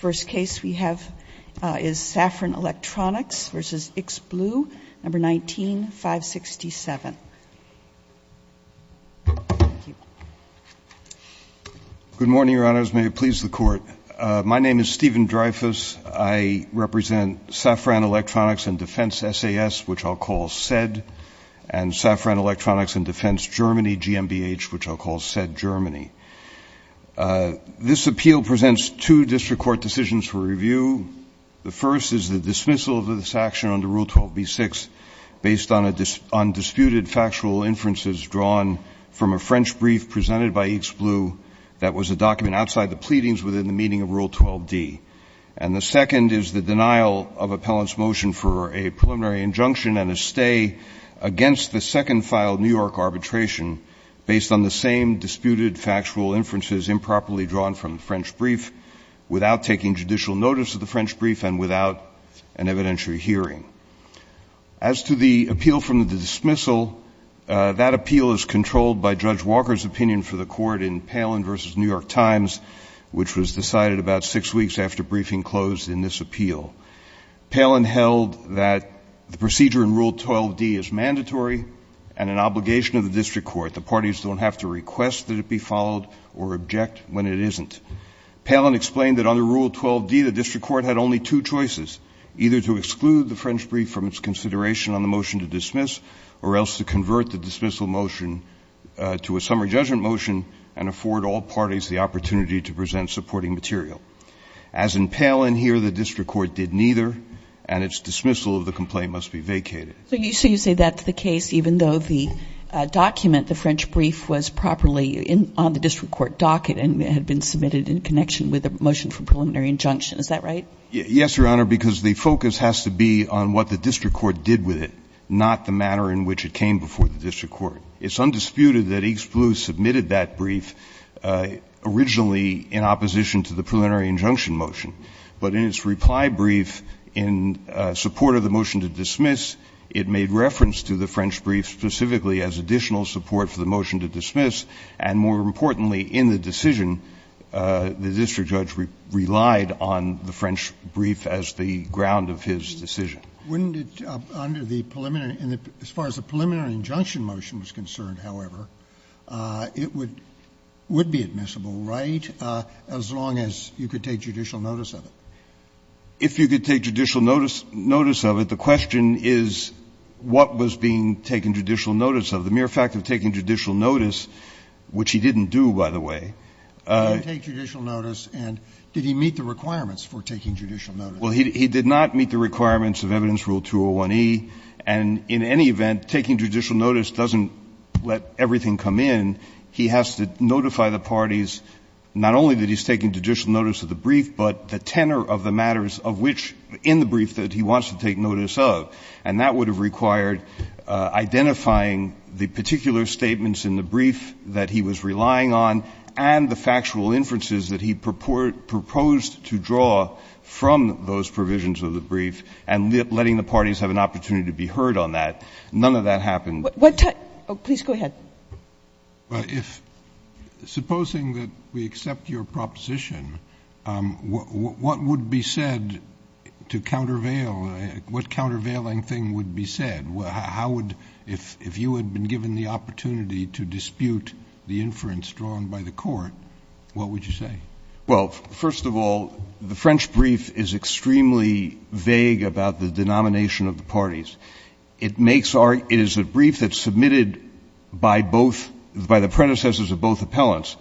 GmbH, which I'll call SED Germany. This appeal presents two district court decisions for review. The first is the dismissal of this action under Rule 12b-6 based on undisputed factual inferences drawn from a French brief presented by X Blue that was a document outside the pleadings within the meaning of Rule 12d. And the second is the denial of appellant's motion for a preliminary injunction and a stay against the second filed New York arbitration based on the same undisputed factual inferences improperly drawn from the French brief without taking judicial notice of the French brief and without an evidentiary hearing. As to the appeal from the dismissal, that appeal is controlled by Judge Walker's opinion for the court in Palin v. New York Times, which was decided about six weeks after briefing closed in this appeal. Palin held that the procedure in Rule 12d is mandatory and an obligation of the court should it be followed or object when it isn't. Palin explained that under Rule 12d, the district court had only two choices, either to exclude the French brief from its consideration on the motion to dismiss or else to convert the dismissal motion to a summary judgment motion and afford all parties the opportunity to present supporting material. As in Palin here, the district court did neither, and its dismissal of the complaint must be vacated. So you say that's the case even though the document, the French brief, was properly on the district court docket and had been submitted in connection with the motion for preliminary injunction. Is that right? Yes, Your Honor, because the focus has to be on what the district court did with it, not the manner in which it came before the district court. It's undisputed that East Blue submitted that brief originally in opposition to the preliminary injunction motion. But in its reply brief, in support of the motion to dismiss, it made reference to the French brief specifically as additional support for the motion to dismiss, and more importantly, in the decision, the district judge relied on the French brief as the ground of his decision. Wouldn't it, under the preliminary, as far as the preliminary injunction motion was concerned, however, it would be admissible, right, as long as you could take judicial notice of it? If you could take judicial notice of it, the question is, what was being taken judicial notice of? The mere fact of taking judicial notice, which he didn't do, by the way. He didn't take judicial notice. And did he meet the requirements for taking judicial notice? Well, he did not meet the requirements of Evidence Rule 201e. And in any event, taking judicial notice doesn't let everything come in. He has to notify the parties not only that he's taking judicial notice of the brief, but the tenor of the matters of which, in the brief, that he wants to take notice of. And that would have required identifying the particular statements in the brief that he was relying on and the factual inferences that he proposed to draw from those provisions of the brief, and letting the parties have an opportunity to be heard on that. None of that happened. What time – oh, please go ahead. Well, if – supposing that we accept your proposition, what would be said to countervail – what countervailing thing would be said? How would – if you had been given the opportunity to dispute the inference drawn by the court, what would you say? Well, first of all, the French brief is extremely vague about the denomination of the parties. It makes – it is a brief that's submitted by both – by the predecessors of both appellants.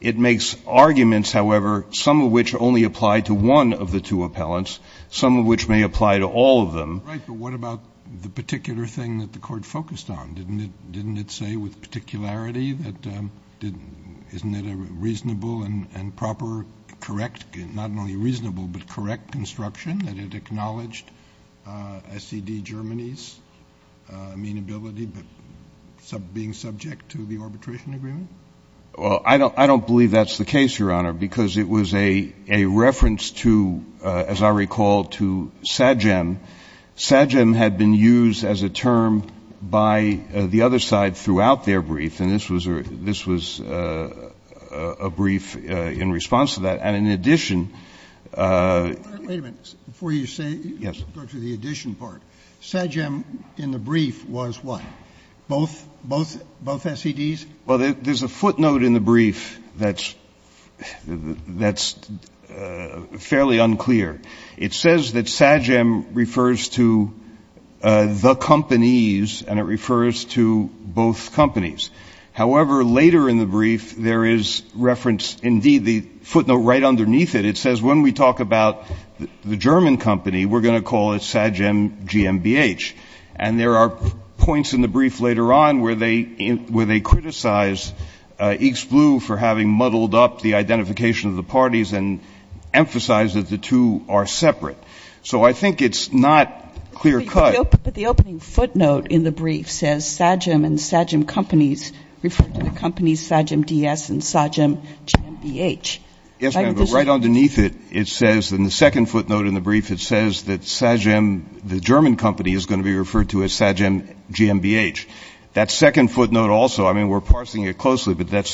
It makes arguments, however, some of which only apply to one of the two appellants, some of which may apply to all of them. Right. But what about the particular thing that the court focused on? Didn't it say with particularity that – isn't it a reasonable and proper, correct – not only reasonable, but correct construction, that it acknowledged SED Germany's amenability, but being subject to the arbitration agreement? Well, I don't believe that's the case, Your Honor, because it was a reference to, as I recall, to SAGEM. SAGEM had been used as a term by the other side throughout their brief, and this was a brief in response to that. And in addition – Wait a minute. Before you say – Yes. Go to the addition part. SAGEM in the brief was what? Both SEDs? Well, there's a footnote in the brief that's fairly unclear. It says that SAGEM refers to the companies, and it refers to both companies. However, later in the brief, there is reference – indeed, the footnote right underneath it, it says when we talk about the German company, we're going to call it SAGEM GmbH. And there are points in the brief later on where they criticize East Blue for having muddled up the identification of the parties and emphasized that the two are separate. So I think it's not clear-cut. But the opening footnote in the brief says SAGEM and SAGEM companies refer to the companies SAGEM DS and SAGEM GmbH. Yes, ma'am, but right underneath it, it says – in the second footnote in the brief, it says that SAGEM, the German company, is going to be referred to as SAGEM GmbH. That second footnote also – I mean, we're parsing it closely, but that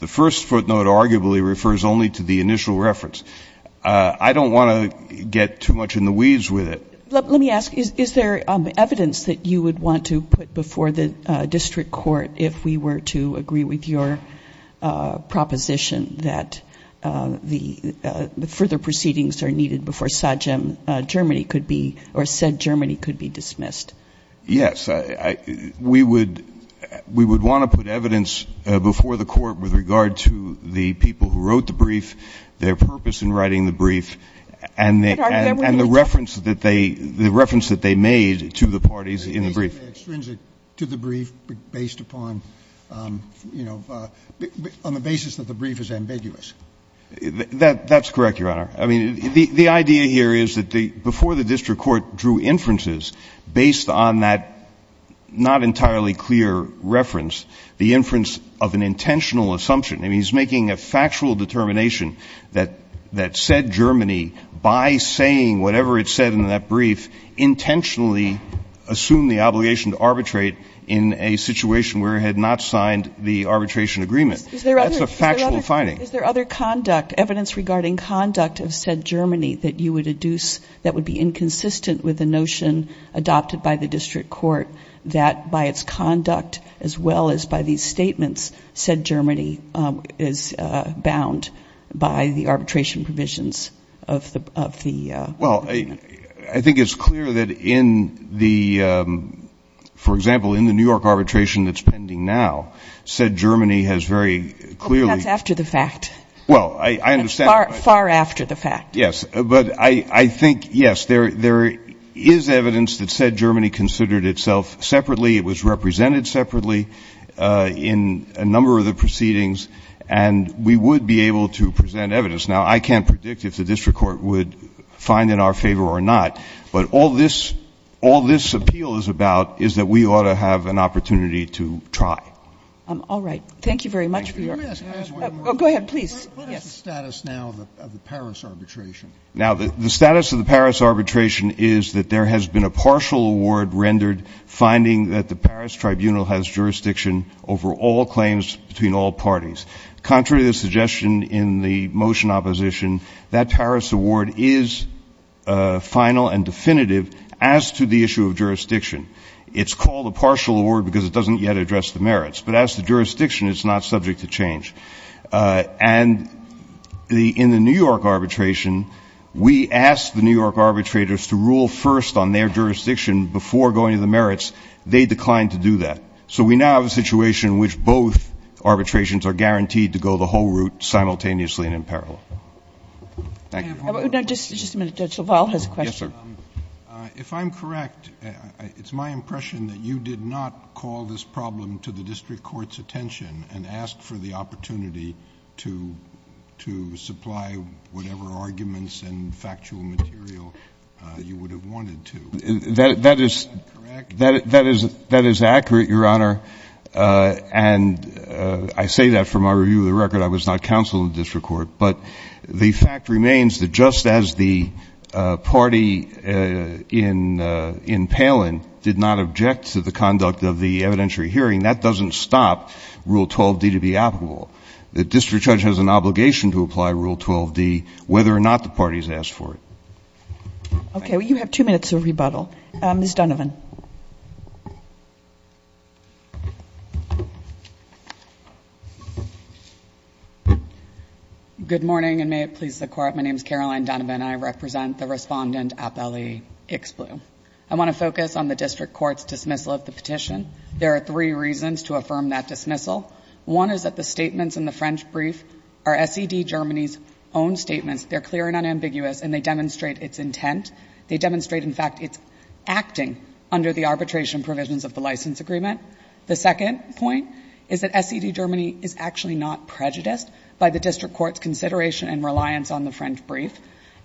the first footnote arguably refers only to the initial reference. I don't want to get too much in the weeds with it. Let me ask, is there evidence that you would want to put before the district court if we were to agree with your proposition that the further proceedings are needed before SAGEM Germany could be – or said Germany could be dismissed? Yes. We would – we would want to put evidence before the court with regard to the people who wrote the brief, their purpose in writing the brief, and the reference that they – the reference that they made to the parties in the brief. But isn't it extrinsic to the brief based upon, you know, on the basis that the brief is ambiguous? That's correct, Your Honor. I mean, the idea here is that before the district court drew inferences based on that not entirely clear reference, the inference of an intentional assumption – I mean, he's making a factual determination that said Germany, by saying whatever it said in that brief, intentionally assumed the obligation to arbitrate in a situation where it had not signed the arbitration agreement. That's a factual finding. Is there other conduct – evidence regarding conduct of said Germany that you would deduce that would be inconsistent with the notion adopted by the district court that by its conduct, as well as by these statements, said Germany is bound by the arbitration provisions of the agreement? Well, I think it's clear that in the – for example, in the New York arbitration That's after the fact. Well, I understand. That's far after the fact. Yes. But I think, yes, there is evidence that said Germany considered itself separately. It was represented separately in a number of the proceedings. And we would be able to present evidence. Now, I can't predict if the district court would find in our favor or not. But all this – all this appeal is about is that we ought to have an opportunity to try. All right. Thank you very much for your – Let me ask – Go ahead, please. What is the status now of the Paris arbitration? Now, the status of the Paris arbitration is that there has been a partial award rendered finding that the Paris tribunal has jurisdiction over all claims between all parties. Contrary to the suggestion in the motion opposition, that Paris award is final and definitive as to the issue of jurisdiction. It's called a partial award because it doesn't yet address the merits. But as to jurisdiction, it's not subject to change. And in the New York arbitration, we asked the New York arbitrators to rule first on their jurisdiction before going to the merits. They declined to do that. So we now have a situation in which both arbitrations are guaranteed to go the whole route simultaneously and in parallel. Thank you. Judge LaValle has a question. Yes, sir. If I'm correct, it's my impression that you did not call this problem to the district court's attention and ask for the opportunity to supply whatever arguments and factual material you would have wanted to. Is that correct? That is accurate, Your Honor. And I say that for my review of the record. I was not counsel in the district court. But the fact remains that just as the party in Palin did not object to the conduct of the evidentiary hearing, that doesn't stop Rule 12D to be applicable. The district judge has an obligation to apply Rule 12D whether or not the party has asked for it. Okay. Well, you have two minutes of rebuttal. Ms. Donovan. Good morning, and may it please the Court. My name is Caroline Donovan. I represent the Respondent Appellee Ixblu. I want to focus on the district court's dismissal of the petition. There are three reasons to affirm that dismissal. One is that the statements in the French brief are SED Germany's own statements. They're clear and unambiguous, and they demonstrate its intent. They demonstrate, in fact, its acting under the arbitration provisions of the license agreement. The second point is that SED Germany is actually not prejudiced by the district court's consideration and reliance on the French brief.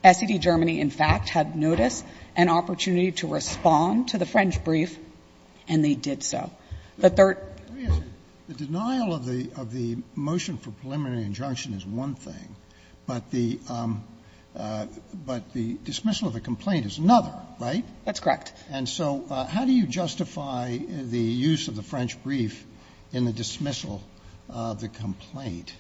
SED Germany, in fact, had notice and opportunity to respond to the French brief, and they did so. The third ---- Let me ask you. The denial of the motion for preliminary injunction is one thing, but the dismissal of the complaint is another, right? That's correct. And so how do you justify the use of the French brief in the dismissal of the complaint?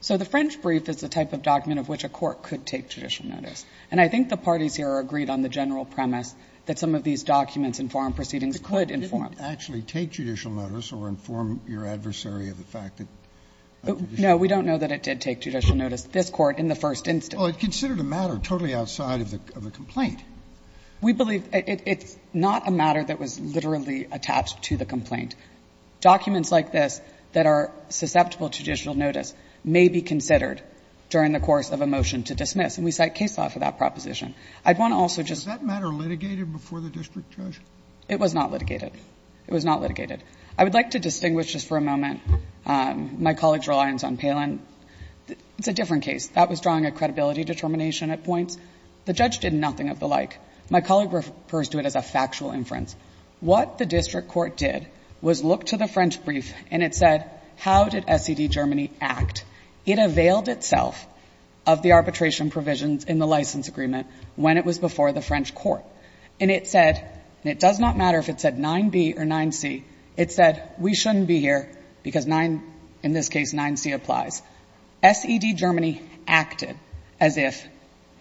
So the French brief is the type of document of which a court could take judicial notice, and I think the parties here agreed on the general premise that some of these documents and foreign proceedings could inform. But it didn't actually take judicial notice or inform your adversary of the fact that judicial notice? No, we don't know that it did take judicial notice, this Court, in the first instance. Well, it considered a matter totally outside of the complaint. We believe it's not a matter that was literally attached to the complaint. Documents like this that are susceptible to judicial notice may be considered during the course of a motion to dismiss, and we cite case law for that proposition. I'd want to also just ---- Was that matter litigated before the district judge? It was not litigated. It was not litigated. I would like to distinguish just for a moment my colleague's reliance on Palin. It's a different case. That was drawing a credibility determination at points. The judge did nothing of the like. My colleague refers to it as a factual inference. What the district court did was look to the French brief and it said, how did SED Germany act? It availed itself of the arbitration provisions in the license agreement when it was before the French court. And it said, and it does not matter if it said 9b or 9c, it said, we shouldn't be here because 9, in this case, 9c applies. SED Germany acted as if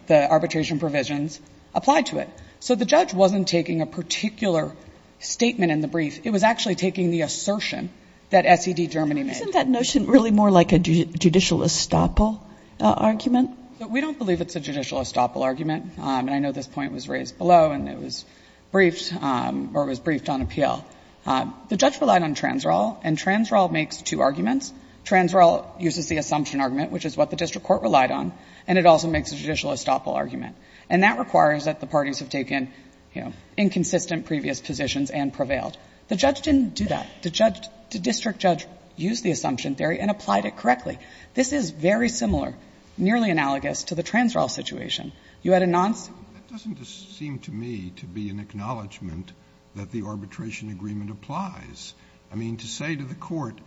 the arbitration provisions applied to it. So the judge wasn't taking a particular statement in the brief. It was actually taking the assertion that SED Germany made. Isn't that notion really more like a judicial estoppel argument? We don't believe it's a judicial estoppel argument. And I know this point was raised below and it was briefed or it was briefed on appeal. The judge relied on TransRaw, and TransRaw makes two arguments. TransRaw uses the assumption argument, which is what the district court relied on, and it also makes a judicial estoppel argument. And that requires that the parties have taken, you know, inconsistent previous positions and prevailed. The judge didn't do that. The district judge used the assumption theory and applied it correctly. This is very similar, nearly analogous, to the TransRaw situation. You had a nonce. Scalia. It doesn't seem to me to be an acknowledgment that the arbitration agreement applies. I mean, to say to the Court,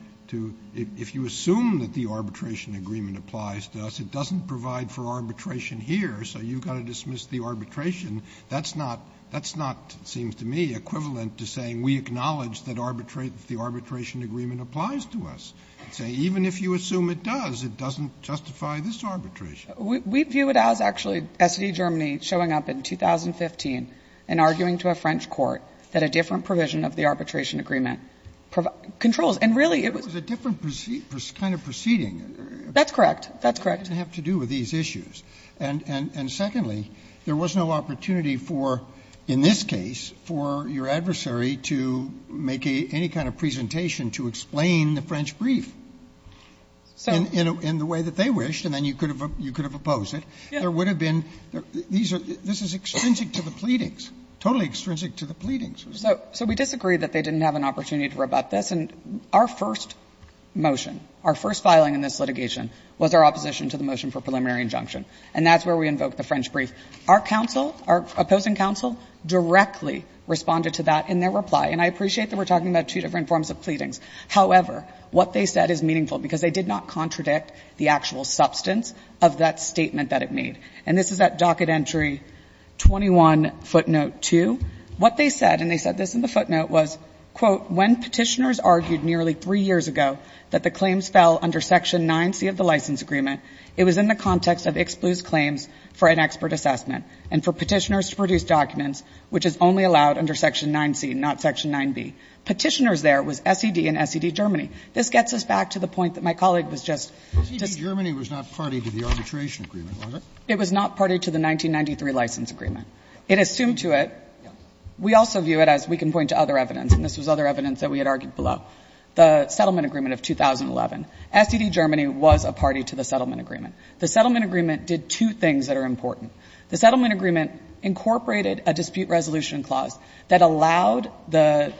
if you assume that the arbitration agreement applies to us, it doesn't provide for arbitration here, so you've got to dismiss the arbitration, that's not, that's not, it seems to me, equivalent to saying we acknowledge that arbitrate the arbitration agreement applies to us. Say, even if you assume it does, it doesn't justify this arbitration. We view it as actually SED Germany showing up in 2015 and arguing to a French court that a different provision of the arbitration agreement controls, and really it was. It was a different kind of proceeding. That's correct. It didn't have to do with these issues. And secondly, there was no opportunity for, in this case, for your adversary to make any kind of presentation to explain the French brief in the way that they wished, and then you could have opposed it. There would have been, this is extrinsic to the pleadings, totally extrinsic to the pleadings. So we disagree that they didn't have an opportunity to rebut this. And our first motion, our first filing in this litigation was our opposition to the motion for preliminary injunction. And that's where we invoked the French brief. Our counsel, our opposing counsel, directly responded to that in their reply. And I appreciate that we're talking about two different forms of pleadings. However, what they said is meaningful because they did not contradict the actual substance of that statement that it made. And this is at docket entry 21 footnote 2. What they said, and they said this in the footnote, was, quote, when Petitioners argued nearly three years ago that the claims fell under section 9C of the license agreement, it was in the context of ex-pluse claims for an expert assessment and for Petitioners to produce documents which is only allowed under section 9C, not section 9B. Petitioners there was SED and SED Germany. This gets us back to the point that my colleague was just discussing. SED Germany was not party to the arbitration agreement, was it? It was not party to the 1993 license agreement. It assumed to it. We also view it, as we can point to other evidence, and this was other evidence that we had argued below, the settlement agreement of 2011. SED Germany was a party to the settlement agreement. The settlement agreement did two things that are important. The settlement agreement incorporated a dispute resolution clause that allowed the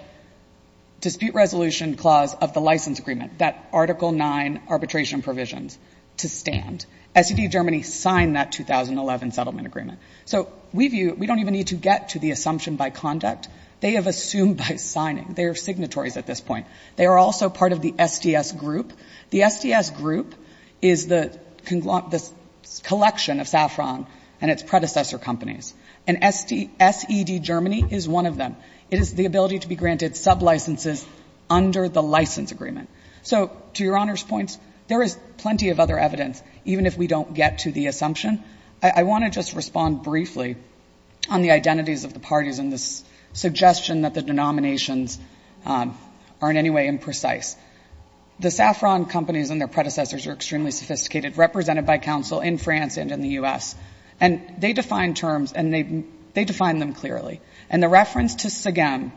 dispute resolution clause of the license agreement, that Article 9 arbitration provisions, to stand. SED Germany signed that 2011 settlement agreement. So we view, we don't even need to get to the assumption by conduct. They have assumed by signing. They are signatories at this point. They are also part of the SDS group. The SDS group is the collection of Saffron and its predecessor companies. And SED Germany is one of them. It is the ability to be granted sublicenses under the license agreement. So to Your Honor's points, there is plenty of other evidence, even if we don't get to the assumption. I want to just respond briefly on the identities of the parties and the suggestion that the denominations are in any way imprecise. The Saffron companies and their predecessors are extremely sophisticated, represented by counsel in France and in the U.S. And they define terms, and they define them clearly. And the reference to Segem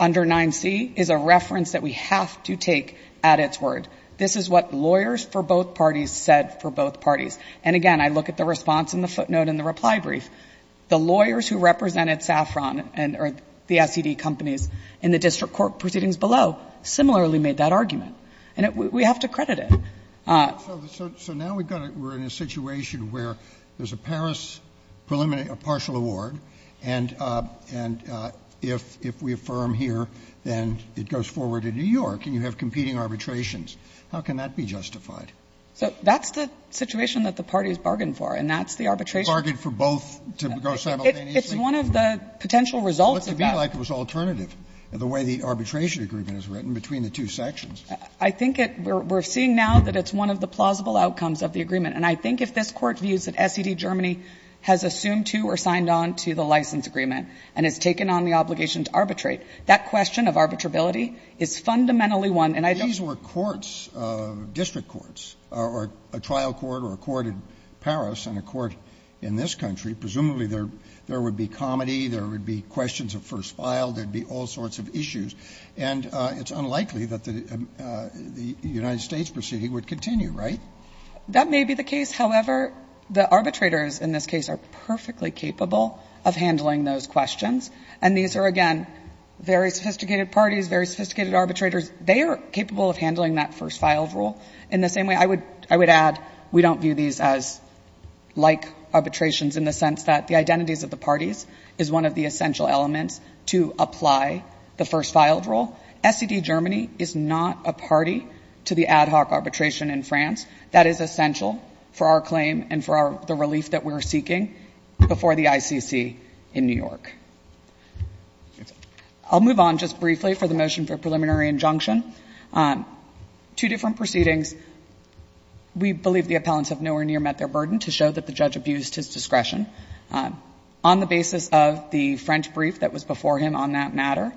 under 9C is a reference that we have to take at its word. This is what lawyers for both parties said for both parties. And, again, I look at the response in the footnote in the reply brief. The lawyers who represented Saffron and the SED companies in the district court proceedings below similarly made that argument. And we have to credit it. So now we're in a situation where there's a Paris partial award, and if we affirm here, then it goes forward to New York, and you have competing arbitrations. How can that be justified? So that's the situation that the parties bargained for, and that's the arbitration. Scalia. Bargained for both to go simultaneously? It's one of the potential results of that. It looked to me like it was alternative, the way the arbitration agreement is written, between the two sections. I think it we're seeing now that it's one of the plausible outcomes of the agreement. And I think if this Court views that SED Germany has assumed to or signed on to the license agreement and has taken on the obligation to arbitrate, that question of arbitrability is fundamentally one. These were courts, district courts, or a trial court or a court in Paris and a court in this country. Presumably there would be comedy, there would be questions of first file, there would be all sorts of issues. And it's unlikely that the United States proceeding would continue, right? That may be the case. However, the arbitrators in this case are perfectly capable of handling those questions. And these are, again, very sophisticated parties, very sophisticated arbitrators. They are capable of handling that first filed rule. In the same way, I would add, we don't view these as like arbitrations in the sense that the identities of the parties is one of the essential elements to apply the first filed rule. SED Germany is not a party to the ad hoc arbitration in France. That is essential for our claim and for the relief that we're seeking before the ICC in New York. I'll move on just briefly for the motion for preliminary injunction. Two different proceedings. We believe the appellants have nowhere near met their burden to show that the judge abused his discretion. On the basis of the French brief that was before him on that matter,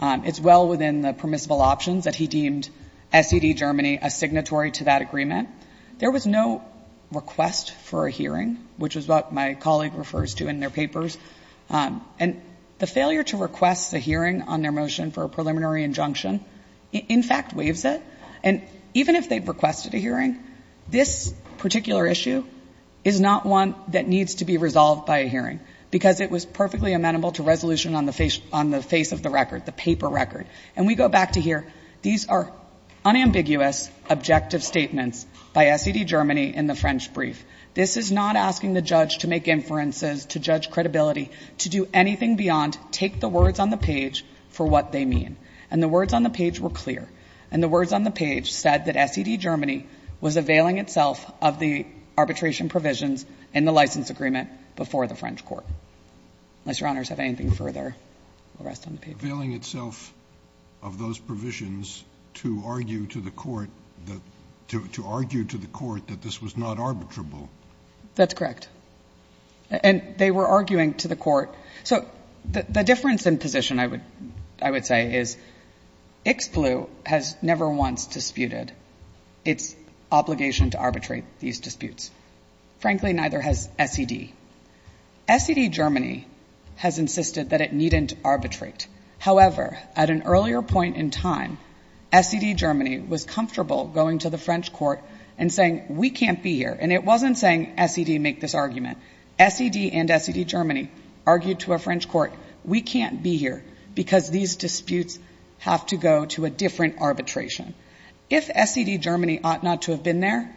it's well within the permissible options that he deemed SED Germany a signatory to that agreement. There was no request for a hearing, which is what my colleague refers to in their papers. And the failure to request a hearing on their motion for a preliminary injunction in fact waives it. And even if they requested a hearing, this particular issue is not one that needs to be resolved by a hearing because it was perfectly amenable to resolution on the face of the record, the paper record. And we go back to here. These are unambiguous objective statements by SED Germany in the French brief. This is not asking the judge to make inferences, to judge credibility, to do anything beyond take the words on the page for what they mean. And the words on the page were clear. And the words on the page said that SED Germany was availing itself of the arbitration provisions in the license agreement before the French court. Unless Your Honors have anything further, we'll rest on the paper. It was availing itself of those provisions to argue to the court that this was not arbitrable. That's correct. And they were arguing to the court. So the difference in position, I would say, is Ix Blue has never once disputed its obligation to arbitrate these disputes. Frankly, neither has SED. SED Germany has insisted that it needn't arbitrate. However, at an earlier point in time, SED Germany was comfortable going to the French court and saying, we can't be here. And it wasn't saying SED make this argument. SED and SED Germany argued to a French court, we can't be here because these disputes have to go to a different arbitration. If SED Germany ought not to have been there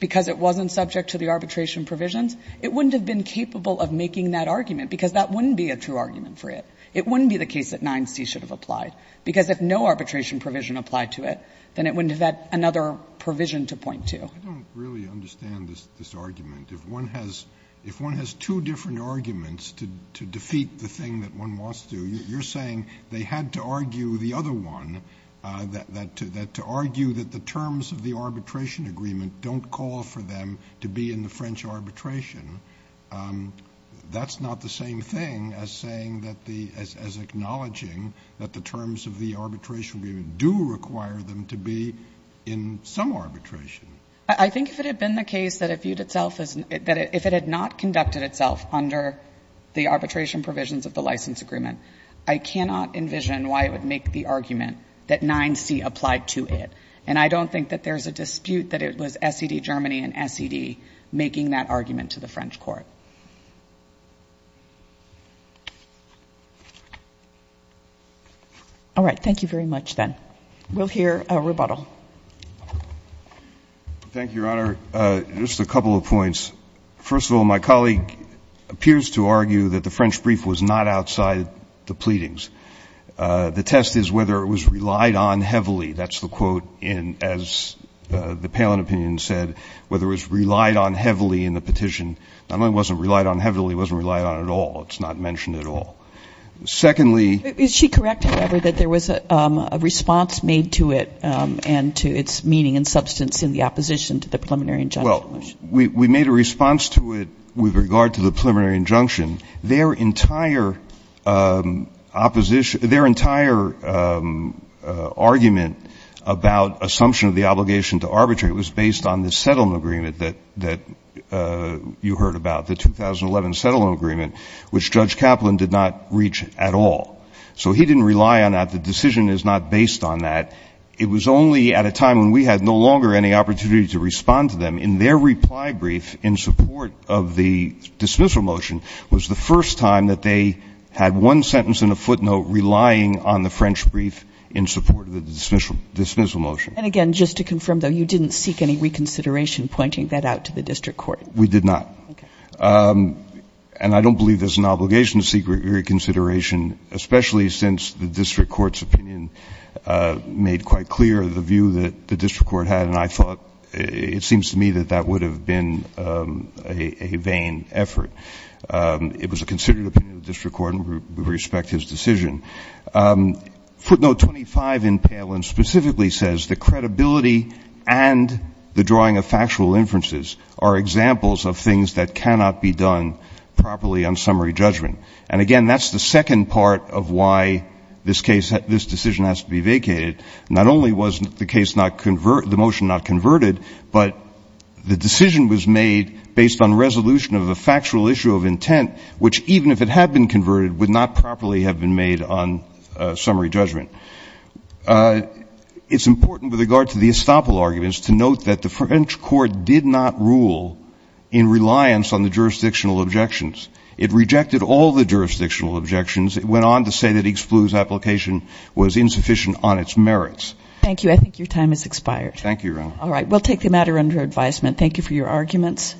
because it wasn't subject to the arbitration provisions, it wouldn't have been capable of making that argument because that wouldn't be a true argument for it. It wouldn't be the case that 9C should have applied. Because if no arbitration provision applied to it, then it wouldn't have had another provision to point to. I don't really understand this argument. If one has two different arguments to defeat the thing that one wants to, you're saying they had to argue the other one, to argue that the terms of the arbitration agreement don't call for them to be in the French arbitration. That's not the same thing as saying that the — as acknowledging that the terms of the arbitration agreement do require them to be in some arbitration. I think if it had been the case that it viewed itself as — that if it had not conducted itself under the arbitration provisions of the license agreement, I cannot envision why it would make the argument that 9C applied to it. And I don't think that there's a dispute that it was SED Germany and SED making that argument to the French court. All right. Thank you very much, then. We'll hear rebuttal. Thank you, Your Honor. Just a couple of points. First of all, my colleague appears to argue that the French brief was not outside the pleadings. The test is whether it was relied on heavily. That's the quote in — as the Palin opinion said, whether it was relied on heavily in the petition. Not only wasn't it relied on heavily, it wasn't relied on at all. It's not mentioned at all. Secondly — Is she correct, however, that there was a response made to it and to its meaning and substance in the opposition to the preliminary injunction? Well, we made a response to it with regard to the preliminary injunction. Their entire opposition — their entire argument about assumption of the obligation to arbitrate was based on the settlement agreement that you heard about, the 2011 settlement agreement, which Judge Kaplan did not reach at all. So he didn't rely on that. The decision is not based on that. It was only at a time when we had no longer any opportunity to respond to them. And that was the time in their reply brief in support of the dismissal motion was the first time that they had one sentence and a footnote relying on the French brief in support of the dismissal motion. And again, just to confirm, though, you didn't seek any reconsideration pointing that out to the district court? We did not. Okay. And I don't believe there's an obligation to seek reconsideration, especially since the district court's opinion made quite clear the view that the district court had, and I thought — it seems to me that that would have been a vain effort. It was a considered opinion of the district court, and we respect his decision. Footnote 25 in Palin specifically says that credibility and the drawing of factual inferences are examples of things that cannot be done properly on summary judgment. And again, that's the second part of why this case — this decision has to be vacated. Not only was the case not — the motion not converted, but the decision was made based on resolution of a factual issue of intent, which even if it had been converted would not properly have been made on summary judgment. It's important with regard to the estoppel arguments to note that the French court did not rule in reliance on the jurisdictional objections. It rejected all the jurisdictional objections. It went on to say that Ixclu's application was insufficient on its merits. Thank you. I think your time has expired. Thank you, Your Honor. All right. We'll take the matter under advisement. Thank you for your arguments.